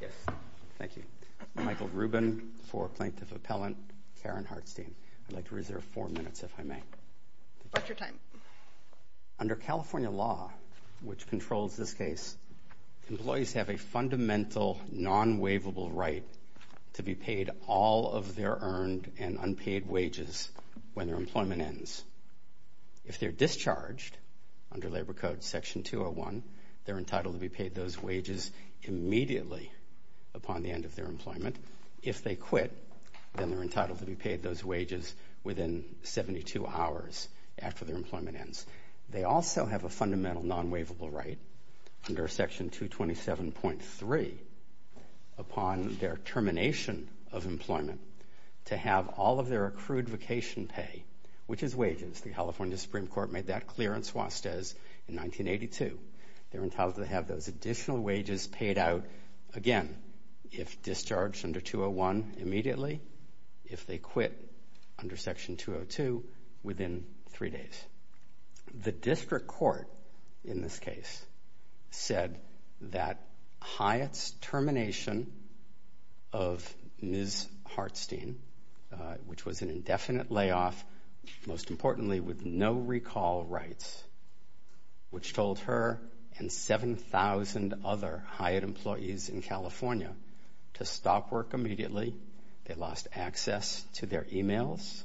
Yes, thank you. Michael Rubin for Plaintiff Appellant, Karen Hartstein. I'd like to reserve four minutes if I may. Under California law, which controls this case, employees have a fundamental non-waivable right to be paid all of their earned and unpaid wages when their employment ends. If they're discharged under labor code section 201, they're entitled to be paid those wages immediately upon the end of their employment. If they quit, then they're entitled to be paid those wages within 72 hours after their employment ends. They also have a fundamental non-waivable right, under section 227.3, upon their termination of employment, to have all of their accrued vacation pay, which is wages. The California Supreme Court made that clear in suestes in 1982. They're entitled to have those additional wages paid out again if discharged under 201 immediately. If they quit under section 202, within three days. The district court in this case said that Hyatt's termination of Ms. Hartstein, which was an indefinite layoff, most importantly with no recall rights, which told her and 7,000 other Hyatt employees in California to stop work immediately. They lost access to their emails.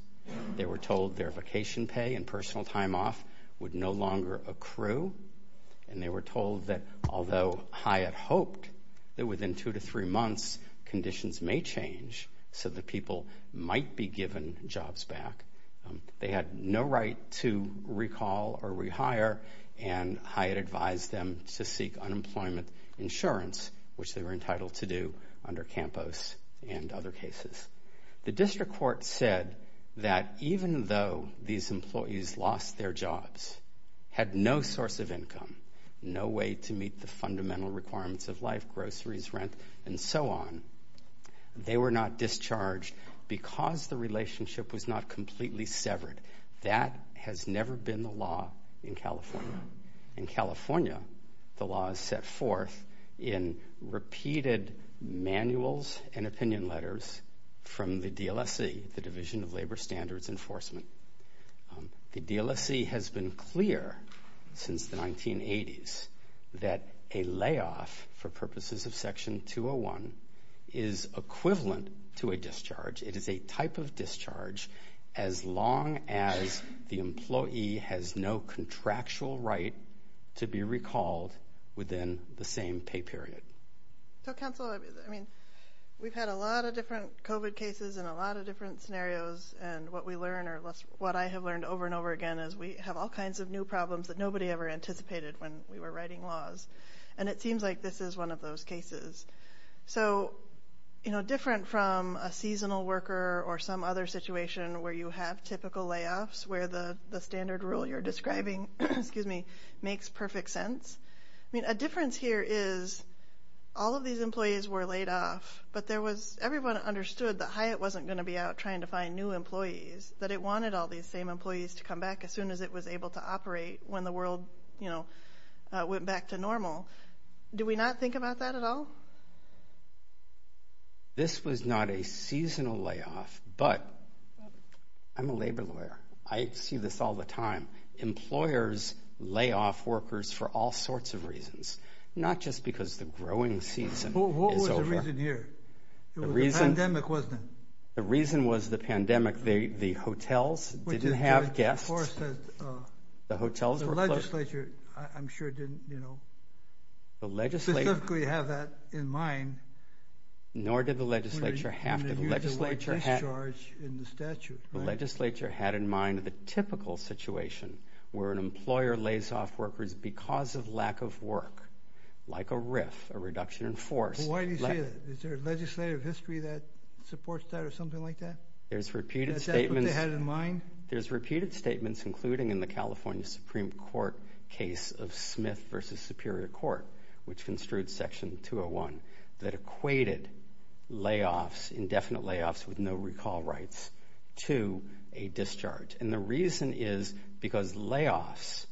They were told their vacation pay and personal time off would no longer accrue. And they were told that although Hyatt hoped that within two to three months conditions may change so that people might be given jobs back, they had no right to recall or rehire. And Hyatt advised them to seek unemployment insurance, which they were entitled to do under Campos and other cases. The district court said that even though these employees lost their jobs, had no source of income, no way to meet the fundamental requirements of life, groceries, rent, and so on, they were not discharged because the relationship was not completely severed. That has never been the law in California. In California the law is set forth in repeated manuals and opinion letters from the DLSC, the Division of Labor Standards Enforcement. The DLSC has been clear since the 1980s that a layoff for purposes of section 201 is equivalent to a discharge. It is a type of discharge as long as the employee has no contractual right to be recalled within the same pay period. So Council, I mean we've had a lot of different COVID cases and a lot of different scenarios and what we learn or what I have learned over and over again is we have all kinds of new problems that nobody ever anticipated when we were writing laws. And it seems like this is one of those cases. So you know where the standard rule you're describing makes perfect sense. I mean a difference here is all of these employees were laid off but there was everyone understood that Hyatt wasn't going to be out trying to find new employees, that it wanted all these same employees to come back as soon as it was able to operate when the world you know went back to normal. Do we not think about that at all? This was not a seasonal layoff, but I'm a labor lawyer. I see this all the time. Employers lay off workers for all sorts of reasons, not just because the growing season is over. What was the reason here? The reason was the pandemic. The hotels didn't have guests. The hotels were closed. The legislature I'm sure didn't, you know, specifically have that in mind. Nor did the legislature have to. The legislature had in mind the typical situation where an employer lays off workers because of lack of work, like a RIF, a reduction in force. Why do you say that? Is there a legislative history that supports that or something like that? There's repeated statements. Is that what they had in mind? There's repeated court which construed section 201 that equated layoffs, indefinite layoffs with no recall rights to a discharge. And the reason is because layoffs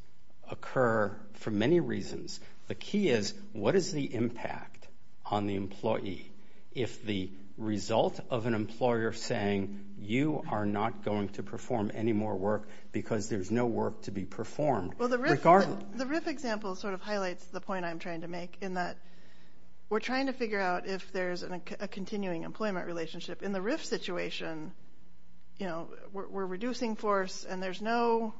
occur for many reasons. The key is what is the impact on the employee if the result of an employer saying you are not going to perform any more work because there's no work to be performed? The RIF example sort of highlights the point I'm trying to make in that we're trying to figure out if there's a continuing employment relationship. In the RIF situation, we're reducing force and there's no,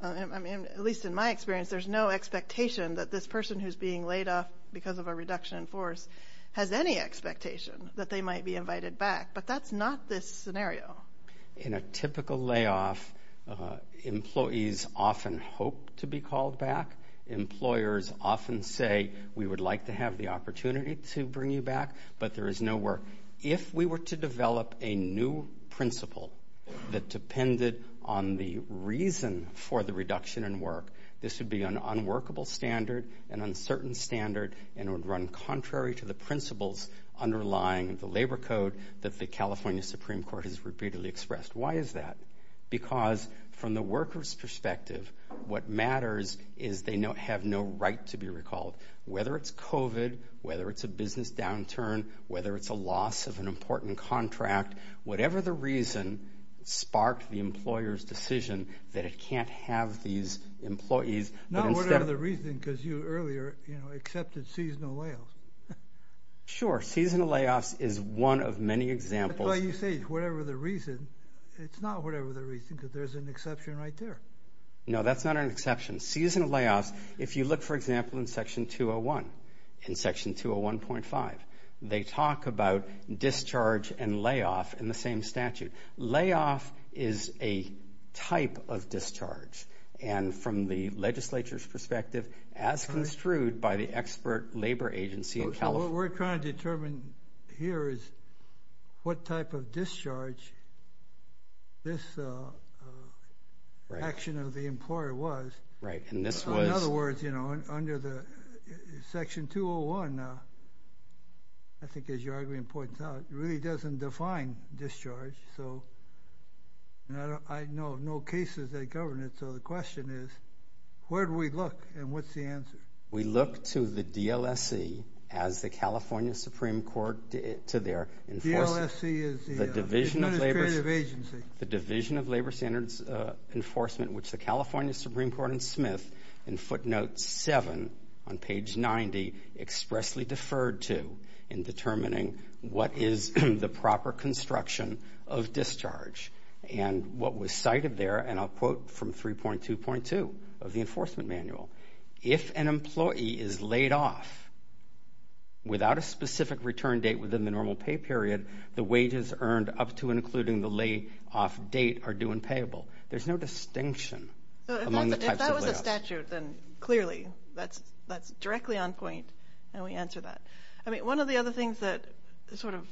at least in my experience, there's no expectation that this person who's being laid off because of a reduction in force has any expectation that they might be invited back. But that's not this scenario. In a typical layoff, employees often hope to be called back. Employers often say we would like to have the opportunity to bring you back, but there is no work. If we were to develop a new principle that depended on the reason for the reduction in work, this would be an unworkable standard, an uncertain standard, and would run contrary to the principles underlying the labor code that the California Supreme Court has repeatedly expressed. Why is that? Because from the workers' perspective, what matters is they have no right to be recalled. Whether it's COVID, whether it's a business downturn, whether it's a loss of an important contract, whatever the reason sparked the employer's decision that it can't have these employees. Not whatever the reason because you earlier, you know, accepted seasonal layoffs. Sure, seasonal layoffs is one of many examples. That's why you say whatever the reason, it's not whatever the reason because there's an exception right there. No, that's not an exception. Seasonal layoffs, if you look, for example, in Section 201, in Section 201.5, they talk about discharge and layoff in the same statute. Layoff is a type of discharge, and from the legislature's perspective, as construed by the expert labor agency in California. What we're trying to determine here is what type of discharge this action of the employer was. Right, and this was... In other words, you know, under the Section 201, I think as you're arguing points out, it really doesn't define discharge. So, I know of no cases that govern it, so the question is, where do we look and what's the answer? We look to the DLSC as the California Supreme Court to their... DLSC is the... The Division of Labor Standards Enforcement, which the California Supreme Court and Smith, in footnotes 7 on page 90, expressly deferred to in determining what is the proper construction of Section 202 of the Enforcement Manual. If an employee is laid off without a specific return date within the normal pay period, the wages earned up to and including the layoff date are due and payable. There's no distinction among the types of layoffs. If that was a statute, then clearly that's directly on point, and we answer that. I mean, one of the other things that, sort of,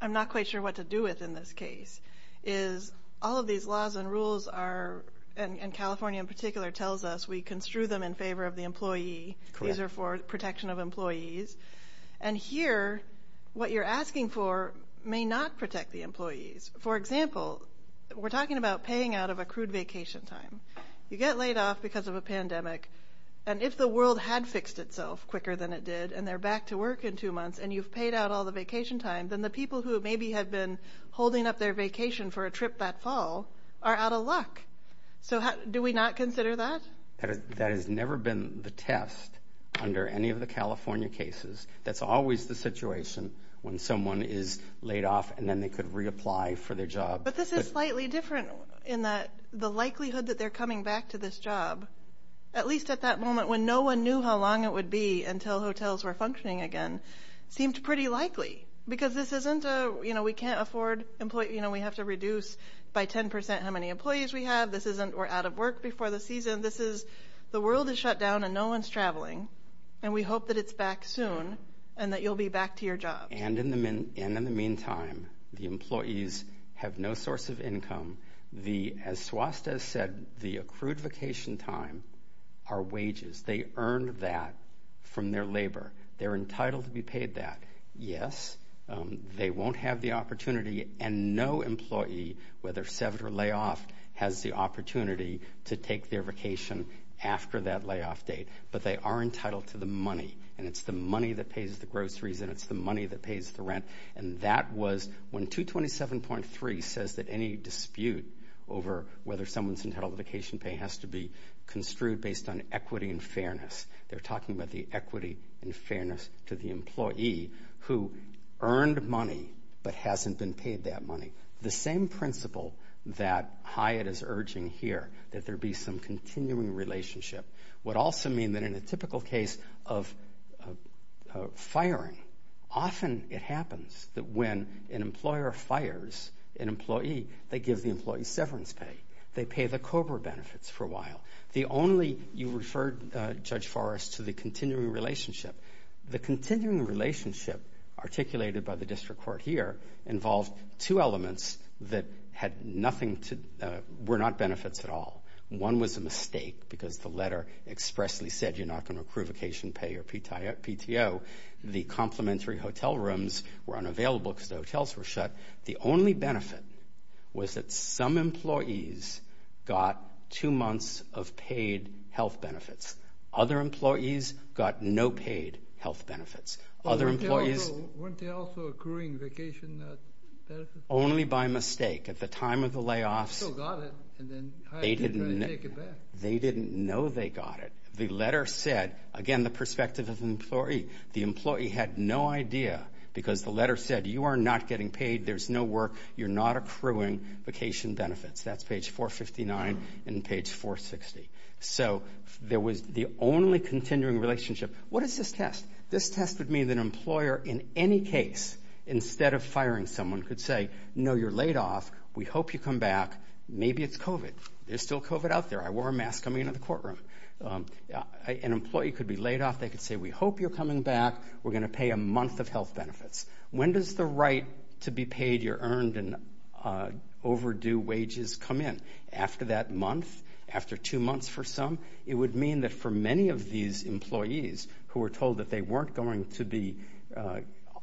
I'm not quite sure what to do with in this case, is all of these laws and rules are... And California, in particular, tells us we construe them in favor of the employee. These are for protection of employees. And here, what you're asking for may not protect the employees. For example, we're talking about paying out of accrued vacation time. You get laid off because of a pandemic, and if the world had fixed itself quicker than it did, and they're back to work in two months, and you've paid out all the vacation time, then the people who maybe had been holding up their vacation for a trip that fall are out of luck. So, do we not consider that? That has never been the test under any of the California cases. That's always the situation when someone is laid off, and then they could reapply for their job. But this is slightly different in that the likelihood that they're coming back to this job, at least at that moment when no one knew how long it would be until hotels were functioning again, seemed pretty likely. Because this isn't a... We can't afford... We have to reduce by 10% how many employees we have. This isn't... We're out of work before the season. This is... The world is shut down and no one's traveling, and we hope that it's back soon and that you'll be back to your job. And in the meantime, the employees have no source of income. As Swasta said, the accrued vacation time are wages. They earned that from their labor. They're entitled to be paid that. Yes, they won't have the opportunity, and no employee, whether severed or layoff, has the opportunity to take their vacation after that layoff date. But they are entitled to the money, and it's the money that pays the groceries, and it's the money that pays the rent. And that was... When 227.3 says that any dispute over whether someone's vacation pay has to be construed based on equity and fairness, they're talking about the equity and fairness to the employee who earned money but hasn't been paid that money. The same principle that Hyatt is urging here, that there be some continuing relationship, would also mean that in a typical case of firing, often it happens that when an employer fires an employee, they give the employee severance pay. They pay the COBRA benefits for a while. The only... You referred, Judge Forrest, to the continuing relationship. The continuing relationship articulated by the district court here involved two elements that were not benefits at all. One was a mistake because the letter expressly said, you're not going to accrue vacation pay or PTO. The complimentary hotel rooms were unavailable because the hotels were shut. The only benefit was that some employees got two months of paid health benefits. Other employees got no paid health benefits. Other employees... Weren't they also accruing vacation benefits? Only by mistake. At the time of the layoffs... They still got it, and then Hyatt didn't try to take it back. They didn't know they got it. The letter said... Again, the perspective of the employee. The employee had no idea because the letter said, you are not getting paid. There's no work. You're not accruing vacation benefits. That's page 459 and page 460. So there was the only continuing relationship. What is this test? This test would mean that an employer, in any case, instead of firing someone, could say, no, you're laid off. We hope you come back. Maybe it's COVID. There's still COVID out there. I wore a mask coming into the courtroom. An employee could be laid off. They could say, we hope you're coming back. We're going to pay a month of health benefits. When does the right to be paid your earned and overdue wages come in? After that month, after two months for some, it would mean that for many of these employees who were told that they weren't going to be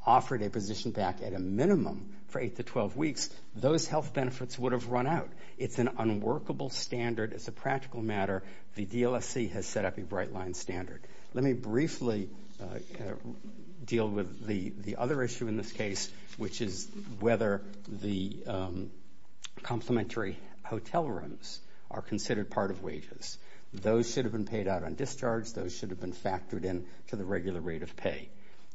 offered a position back at a minimum for 8 to 12 weeks, those health benefits would have run out. It's an unworkable standard. It's a practical matter. The DLSC has set up a bright line standard. Let me briefly deal with the other issue in this case, which is whether the complimentary hotel rooms are considered part of wages. Those should have been paid out on discharge. Those should have been factored in to the regular rate of pay.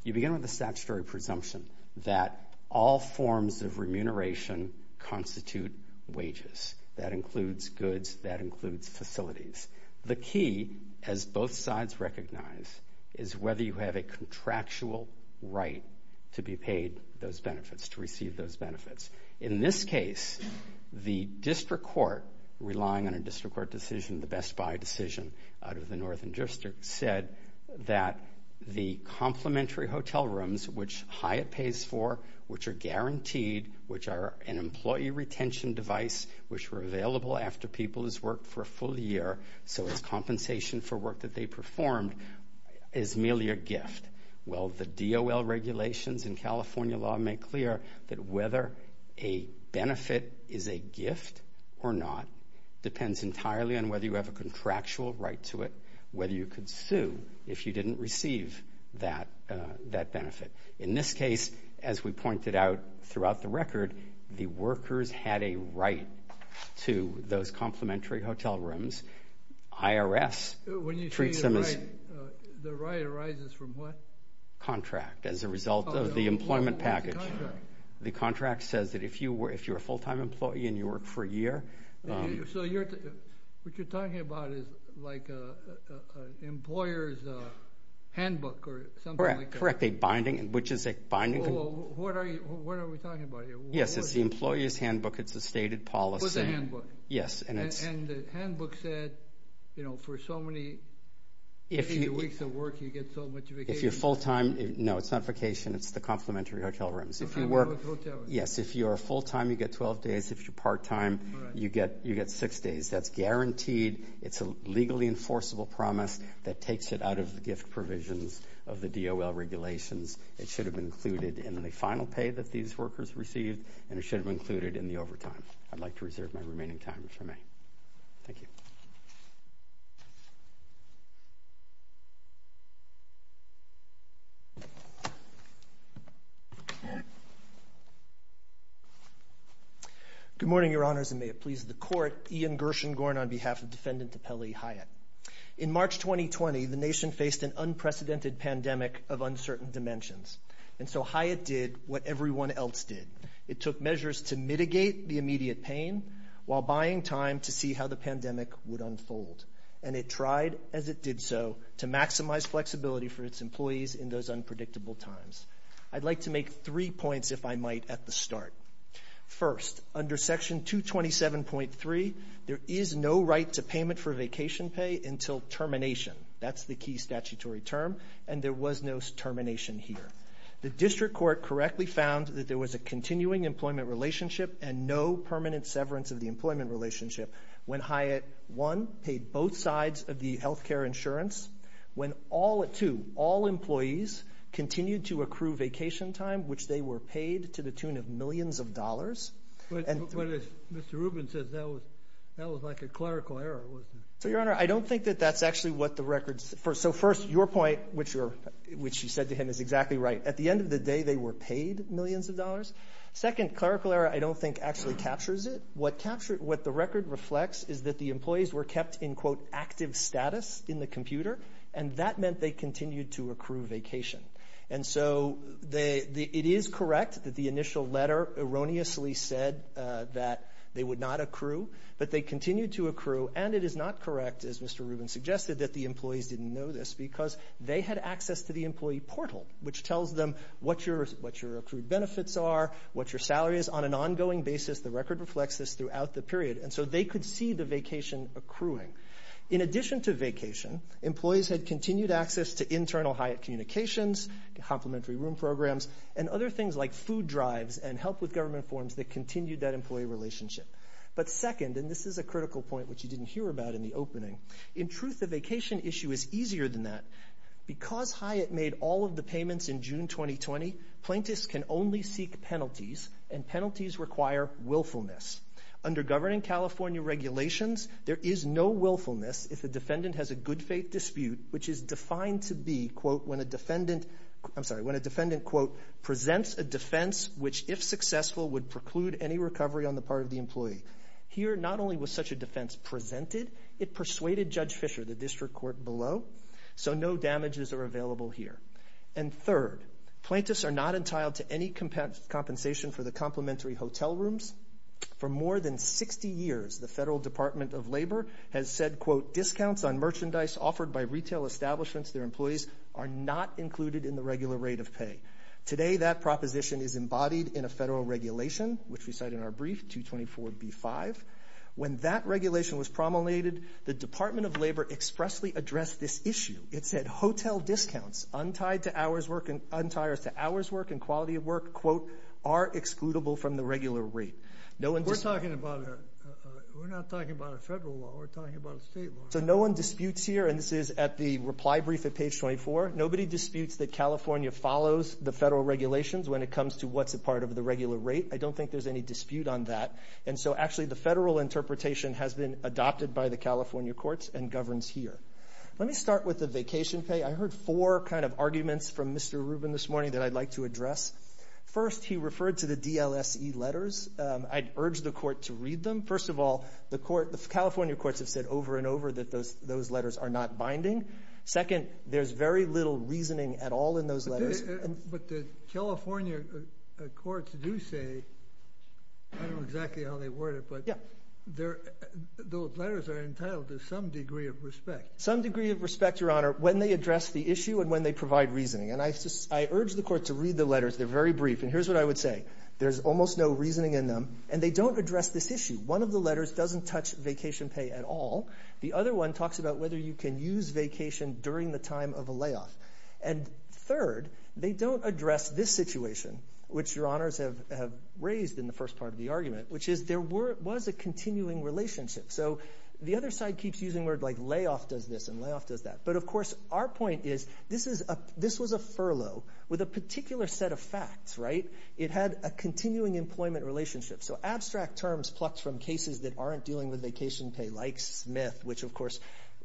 You begin with a statutory presumption that all forms of remuneration constitute wages. That includes goods. That includes facilities. The key, as both sides recognize, is whether you have a contractual right to be paid those benefits, to receive those benefits. In this case, the district court, relying on a district court decision, the Best Buy decision out of the Northern District, said that the complimentary hotel rooms, which Hyatt pays for, which are guaranteed, which are an employee retention device, which were available after people has worked for a full year, so as compensation for work that they performed, is merely a gift. Well, the DOL regulations in California law make clear that whether a benefit is a gift or not depends entirely on whether you have a contractual right to it, whether you could sue if you didn't receive that benefit. In this case, as we pointed out throughout the record, the workers had a right to those complimentary hotel rooms. IRS treats them as... The right arises from what? Contract, as a result of the employment package. The contract says that if you're a full-time employee and you work for a year... So what you're talking about is like an employer's handbook or something like that? Correct, a binding, which is a binding... What are we talking about here? Yes, it's the employer's handbook, it's a stated policy. So it's a handbook? Yes, and it's... And the handbook said, you know, for so many weeks of work, you get so much vacation. If you're full-time, no, it's not vacation, it's the complimentary hotel rooms. If you work... Yes, if you're full-time, you get 12 days, if you're part-time, you get six days. That's guaranteed, it's a legally enforceable promise that takes it out of the gift provisions of the DOL regulations. It should have been included in the final pay that these workers received, and it should have been included in the overtime. I'd like to reserve my remaining time if I may. Thank you. Good morning, your honors, and may it please the court. Ian Gershengorn on behalf of Defendant Topeli Hyatt. In March 2020, the nation faced an unprecedented pandemic of uncertain dimensions. And so Hyatt did what everyone else did. It took measures to mitigate the immediate pain while buying time to see how the pandemic would unfold. And it tried, as it did so, to maximize flexibility for its employees in those unpredictable times. I'd like to make three points, if I might, at the start. First, under section 227.3, there is no right to payment for vacation pay until termination. That's the key statutory term, and there was no termination here. The district court correctly found that there was a continuing employment relationship and no permanent severance of the employment relationship when Hyatt, one, paid both sides of the health care insurance, when, two, all employees continued to accrue vacation time, which they were paid to the tune of millions of dollars. But as Mr. Rubin says, that was like a clerical error, wasn't it? So, Your Honor, I don't think that that's actually what the records... So, first, your point, which you said to him is exactly right. At the end of the day, they were paid millions of dollars. Second, clerical error, I don't think, actually captures it. What the record reflects is that the employees were kept in, quote, active status in the computer, and that meant they continued to accrue vacation. And so, it is correct that the initial letter erroneously said that they would not accrue, but they continued to accrue, and it is not correct, as Mr. Rubin suggested, that the employees didn't know this because they had access to the employee portal, which tells them what your accrued benefits are, what your salary is. On an ongoing basis, the record reflects this throughout the period, and so they could see the vacation accruing. In addition to vacation, employees had continued access to internal Hyatt communications, complimentary room programs, and other things like food drives and help with government forms that continued that employee relationship. But second, and this is a critical point, which you didn't hear about in the opening, in truth, the vacation issue is easier than that. Because Hyatt made all of the payments in June 2020, plaintiffs can only seek penalties, and penalties require willfulness. Under governing California regulations, there is no willfulness if the defendant has a good faith dispute, which is defined to be, quote, when a defendant, I'm sorry, when a defendant, quote, presents a defense, which if successful, would preclude any recovery on the part of the employee. Here, not only was such a defense presented, it persuaded Judge Fisher, the district court below, so no damages are available here. And third, plaintiffs are not entitled to any compensation for the complimentary hotel rooms, for more than 60 years, the Federal Department of Labor has said, quote, discounts on merchandise offered by retail establishments to their employees are not included in the regular rate of pay. Today, that proposition is embodied in a federal regulation, which we cite in our brief, 224B5. When that regulation was promulgated, the Department of Labor expressly addressed this issue. ...are excludable from the regular rate. We're talking about, we're not talking about a federal law, we're talking about a state law. So no one disputes here, and this is at the reply brief at page 24. Nobody disputes that California follows the federal regulations when it comes to what's a part of the regular rate. I don't think there's any dispute on that. And so actually, the federal interpretation has been adopted by the California courts and governs here. Let me start with the vacation pay. First, he referred to the DLSE letters. I'd urge the court to read them. First of all, the California courts have said over and over that those letters are not binding. Second, there's very little reasoning at all in those letters. But the California courts do say, I don't know exactly how they word it, but those letters are entitled to some degree of respect. Some degree of respect, Your Honor, when they address the issue and when they provide reasoning. And I urge the court to read the letters. They're very brief. And here's what I would say. There's almost no reasoning in them, and they don't address this issue. One of the letters doesn't touch vacation pay at all. The other one talks about whether you can use vacation during the time of a layoff. And third, they don't address this situation, which Your Honors have raised in the first part of the argument, which is there was a continuing relationship. So the other side keeps using words like layoff does this and layoff does that. But of course, our point is this was a furlough with a particular set of facts, right? It had a continuing employment relationship. So abstract terms plucked from cases that aren't dealing with vacation pay, like Smith, which of course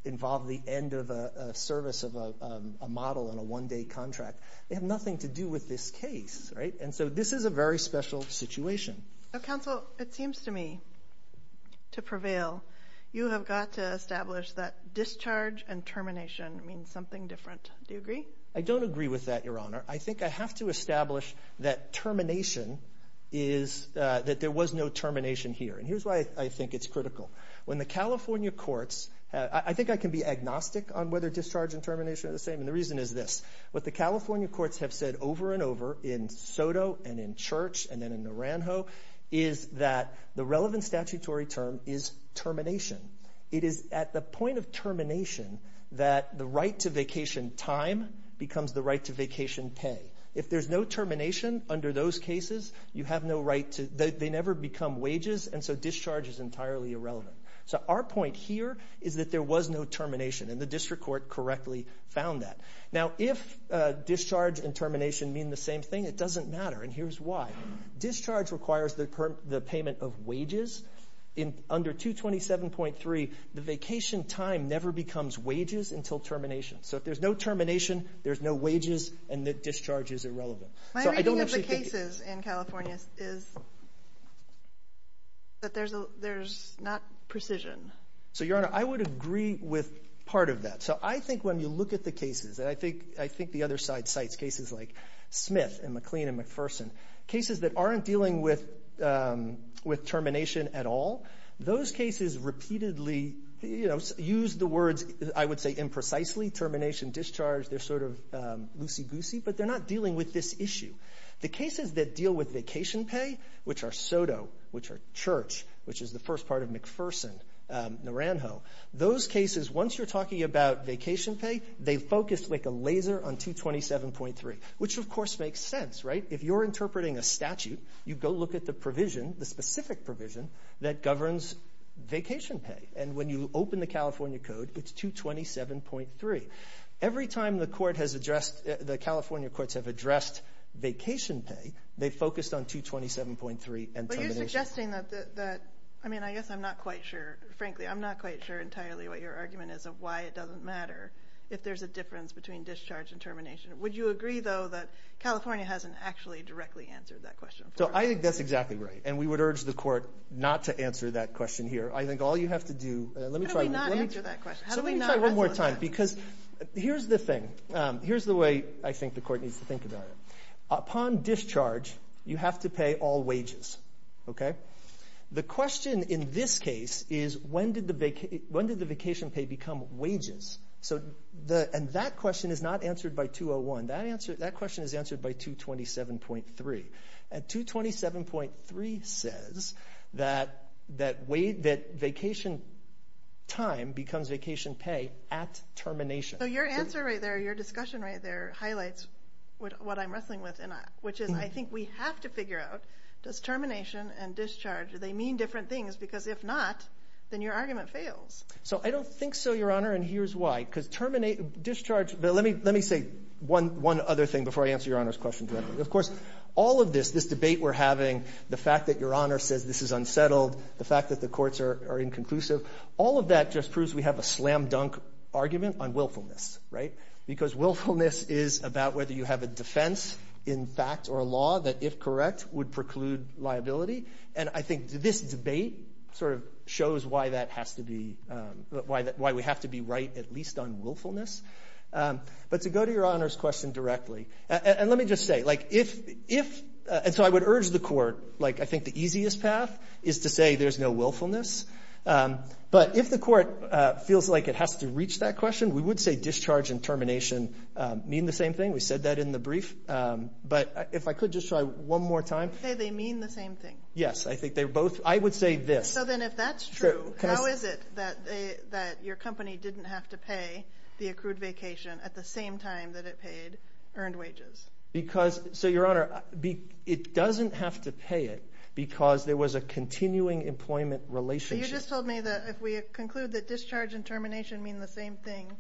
involved the end of a service of a model in a one day contract. They have nothing to do with this case, right? And so this is a very special situation. Counsel, it seems to me to prevail. You have got to establish that discharge and termination means something different. Do you agree? I don't agree with that, Your Honor. I think I have to establish that termination is, that there was no termination here. And here's why I think it's critical. When the California courts, I think I can be agnostic on whether discharge and termination are the same, and the reason is this. What the California courts have said over and over in Soto and in Church and then in Naranjo is that the relevant statutory term is termination. It is at the point of termination that the right to vacation time becomes the right to vacation pay. If there's no termination under those cases, you have no right to, they never become wages, and so discharge is entirely irrelevant. So our point here is that there was no termination, and the district court correctly found that. Now, if discharge and termination mean the same thing, it doesn't matter, and discharge requires the payment of wages. In under 227.3, the vacation time never becomes wages until termination. So if there's no termination, there's no wages, and the discharge is irrelevant. My reading of the cases in California is that there's not precision. So, Your Honor, I would agree with part of that. So I think when you look at the cases, and I think the other side cites cases like cases that aren't dealing with termination at all. Those cases repeatedly use the words, I would say, imprecisely. Termination, discharge, they're sort of loosey-goosey, but they're not dealing with this issue. The cases that deal with vacation pay, which are Soto, which are Church, which is the first part of McPherson, Naranjo. Those cases, once you're talking about vacation pay, they focus like a laser on 227.3, which of course makes sense, right? If you're interpreting a statute, you go look at the provision, the specific provision, that governs vacation pay. And when you open the California Code, it's 227.3. Every time the California courts have addressed vacation pay, they focused on 227.3 and termination. But you're suggesting that, I mean, I guess I'm not quite sure. Frankly, I'm not quite sure entirely what your argument is of why it doesn't matter if there's a difference between discharge and termination. Would you agree, though, that California hasn't actually directly answered that question? So I think that's exactly right. And we would urge the court not to answer that question here. I think all you have to do- How do we not answer that question? So let me try one more time, because here's the thing. Here's the way I think the court needs to think about it. Upon discharge, you have to pay all wages, okay? The question in this case is, when did the vacation pay become wages? So the- And that question is not answered by 201. That question is answered by 227.3. And 227.3 says that vacation time becomes vacation pay at termination. So your answer right there, your discussion right there, highlights what I'm wrestling with, which is I think we have to figure out, does termination and discharge, do they mean different things? Because if not, then your argument fails. So I don't think so, Your Honor, and here's why. Because terminate, discharge, but let me say one other thing before I answer Your Honor's question directly. Of course, all of this, this debate we're having, the fact that Your Honor says this is unsettled, the fact that the courts are inconclusive, all of that just proves we have a slam dunk argument on willfulness, right? Because willfulness is about whether you have a defense in fact or a law that, if correct, would preclude liability. And I think this debate sort of shows why that has to be, why we have to be right at least on willfulness. But to go to Your Honor's question directly, and let me just say, like if, and so I would urge the court, like I think the easiest path is to say there's no willfulness. But if the court feels like it has to reach that question, we would say discharge and termination mean the same thing. We said that in the brief. But if I could just try one more time. They mean the same thing. Yes, I think they're both, I would say this. So then if that's true, how is it that your company didn't have to pay the accrued vacation at the same time that it paid earned wages? Because, so Your Honor, it doesn't have to pay it because there was a continuing employment relationship. You just told me that if we conclude that discharge and termination mean the same thing,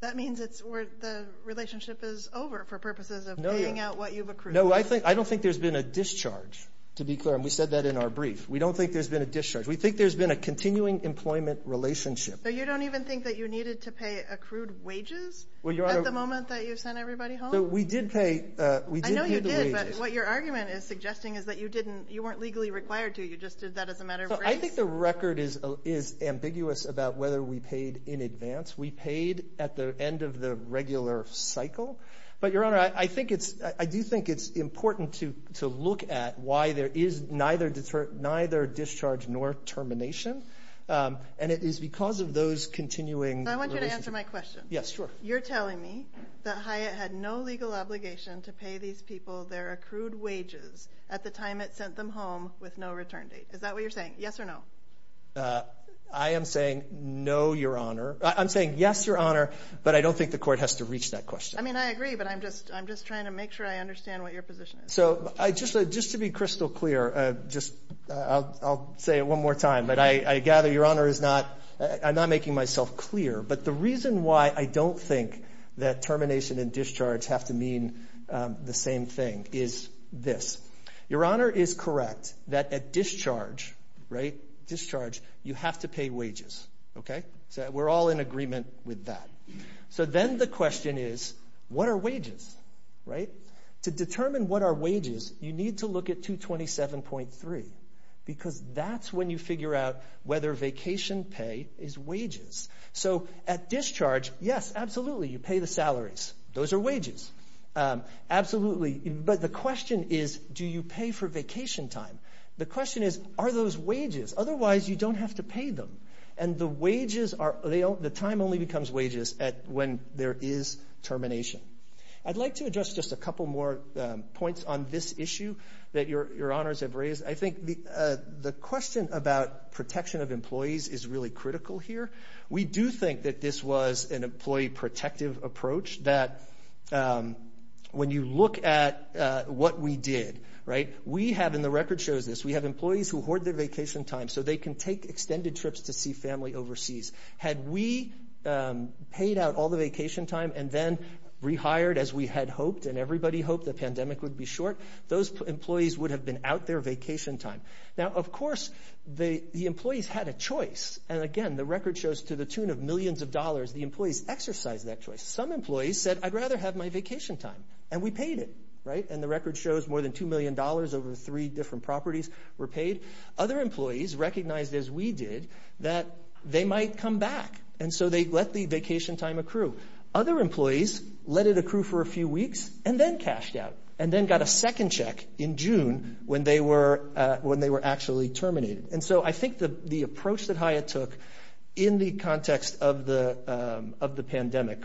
that means it's where the relationship is over for purposes of paying out what you've accrued. No, I think, I don't think there's been a discharge, to be clear. And we said that in our brief. We don't think there's been a discharge. We think there's been a continuing employment relationship. So you don't even think that you needed to pay accrued wages? Well, Your Honor. At the moment that you sent everybody home? So we did pay, we did pay the wages. I know you did, but what your argument is suggesting is that you didn't, you weren't legally required to, you just did that as a matter of grace? I think the record is, is ambiguous about whether we paid in advance. We paid at the end of the regular cycle. But Your Honor, I, I think it's, I do think it's important to, to look at why there is neither deter, neither discharge nor termination. And it is because of those continuing relationships. I want you to answer my question. Yes, sure. You're telling me that Hyatt had no legal obligation to pay these people their accrued wages at the time it sent them home with no return date. Is that what you're saying? Yes or no? I am saying no, Your Honor. I'm saying yes, Your Honor. But I don't think the court has to reach that question. I mean, I agree, but I'm just, I'm just trying to make sure I understand what your position is. So, I just, just to be crystal clear, just, I'll, I'll say it one more time. But I, I gather Your Honor is not, I'm not making myself clear. But the reason why I don't think that termination and discharge have to mean the same thing is this. Your Honor is correct that at discharge, right, discharge, you have to pay wages. Okay? So we're all in agreement with that. So then the question is, what are wages? Right? To determine what are wages, you need to look at 227.3. Because that's when you figure out whether vacation pay is wages. So, at discharge, yes, absolutely, you pay the salaries. Those are wages. Absolutely, but the question is, do you pay for vacation time? The question is, are those wages? Otherwise, you don't have to pay them. And the wages are, they all, the time only becomes wages at, when there is termination. I'd like to address just a couple more points on this issue that your, your honors have raised. I think the the question about protection of employees is really critical here. We do think that this was an employee protective approach, that when you look at what we did, right? We have, and the record shows this, we have employees who hoard their vacation time so they can take extended trips to see family overseas. Had we paid out all the vacation time and then rehired as we had hoped, and everybody hoped the pandemic would be short, those employees would have been out their vacation time. Now, of course, the, the employees had a choice. And again, the record shows to the tune of millions of dollars, the employees exercised that choice. Some employees said, I'd rather have my vacation time. And we paid it, right? And the record shows more than $2 million over three different properties were paid. Other employees recognized, as we did, that they might come back. And so they let the vacation time accrue. Other employees let it accrue for a few weeks and then cashed out, and then got a second check in June when they were, when they were actually terminated. And so I think the, the approach that HIA took in the context of the, of the pandemic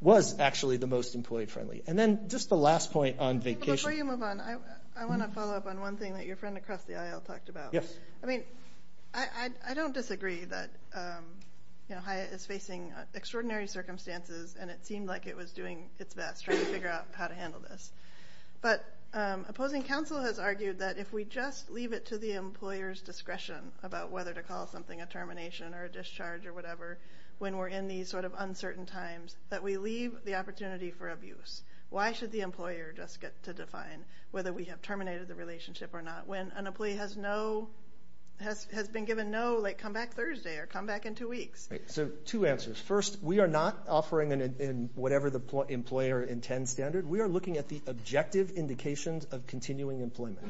was actually the most employee friendly. And then just the last point on vacation. Before you move on, I, I want to follow up on one thing that your friend across the aisle talked about. Yes. I mean, I, I, I don't disagree that, you know, HIA is facing extraordinary circumstances, and it seemed like it was doing its best trying to figure out how to handle this. But opposing counsel has argued that if we just leave it to the employer's discretion about whether to call something a termination or a discharge or whatever, when we're in these sort of uncertain times, that we leave the opportunity for abuse. Why should the employer just get to define whether we have terminated the relationship or not when an employee has no, has, has been given no, like, come back Thursday or come back in two weeks? Right. So two answers. First, we are not offering an, an, whatever the employer intends standard. We are looking at the objective indications of continuing employment.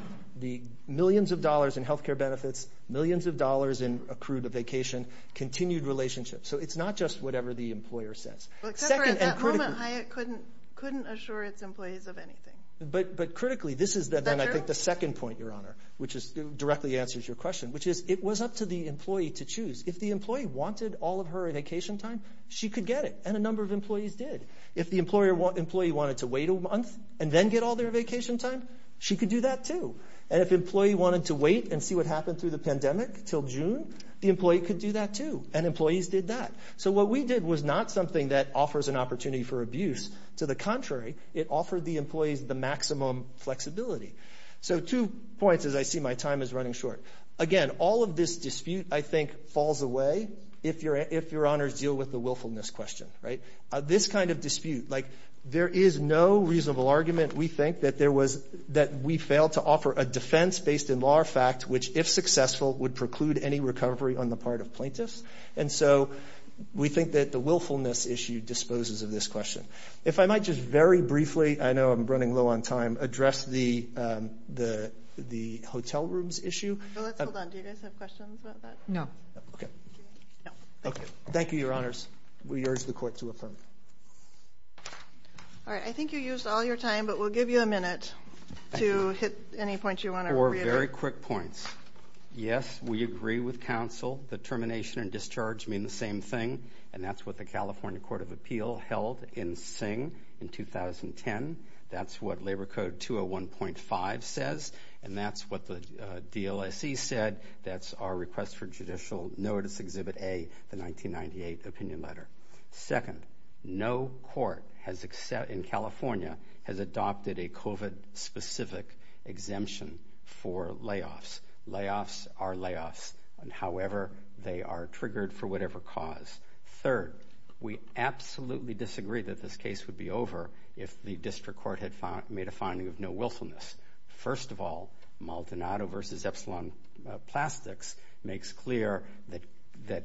The millions of dollars in healthcare benefits, millions of dollars in accrued vacation, continued relationships. So it's not just whatever the employer says. Well, except for at that moment, HIA couldn't, couldn't assure its employees of anything. But, but critically, this is then, I think, the second point, Your Honor, which is, directly answers your question, which is, it was up to the employee to choose. If the employee wanted all of her vacation time, she could get it, and a number of employees did. If the employer want, employee wanted to wait a month and then get all their vacation time, she could do that too. And if the employee wanted to wait and see what happened through the pandemic till June, the employee could do that too, and employees did that. So what we did was not something that offers an opportunity for abuse. To the contrary, it offered the employees the maximum flexibility. So two points, as I see my time is running short. Again, all of this dispute, I think, falls away if your, if Your Honors deal with the willfulness question, right? This kind of dispute, like, there is no reasonable argument, we think, that there was, that we failed to offer a defense based in law or fact which, if successful, would preclude any recovery on the part of plaintiffs. And so, we think that the willfulness issue disposes of this question. If I might just very briefly, I know I'm running low on time, address the hotel rooms issue. So let's hold on. Do you guys have questions about that? No. Okay. No. Okay. Thank you, Your Honors. We urge the court to affirm. All right. I think you used all your time, but we'll give you a minute to hit any points you want to reiterate. Four very quick points. Yes, we agree with counsel that termination and discharge mean the same thing. And that's what the California Court of Appeal held in Singh in 2010. That's what Labor Code 201.5 says. And that's what the DLSE said. That's our request for judicial notice, Exhibit A, the 1998 opinion letter. Second, no court in California has adopted a COVID-specific exemption for layoffs. Layoffs are layoffs. However, they are triggered for whatever cause. Third, we absolutely disagree that this case would be over if the district court had made a finding of no willfulness. First of all, Maldonado v. Epsilon Plastics makes clear that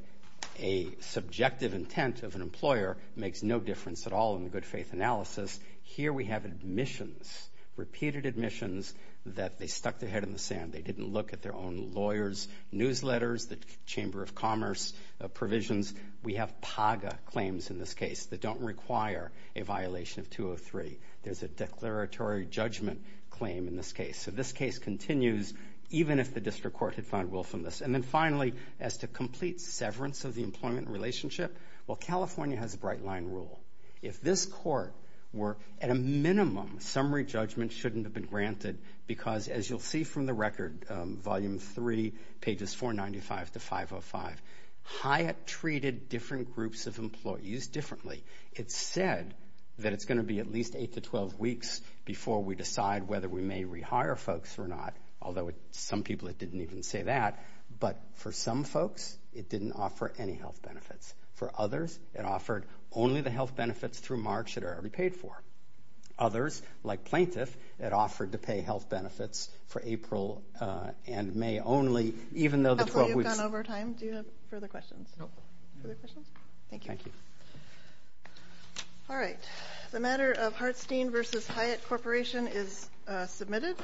a subjective intent of an employer makes no difference at all in the good faith analysis. Here we have admissions, repeated admissions that they stuck their head in the sand. They didn't look at their own lawyers' newsletters, the Chamber of Commerce provisions. We have PAGA claims in this case that don't require a violation of 203. There's a declaratory judgment claim in this case. So this case continues even if the district court had found willfulness. And then finally, as to complete severance of the employment relationship, well, California has a bright line rule. If this court were, at a minimum, summary judgment shouldn't have been granted because, as you'll see from the record, Volume 3, pages 495 to 505, Hyatt treated different groups of employees differently. It's said that it's going to be at least 8 to 12 weeks before we decide whether we may rehire folks or not, although some people didn't even say that, but for some folks, it didn't offer any health benefits. For others, it offered only the health benefits through March that are repaid for. Others, like Plaintiff, it offered to pay health benefits for April and May only, even though the 12 weeks- Counselor, you've gone over time. Do you have further questions? No. Further questions? Thank you. Thank you. All right, the matter of Hartstein versus Hyatt Corporation is submitted.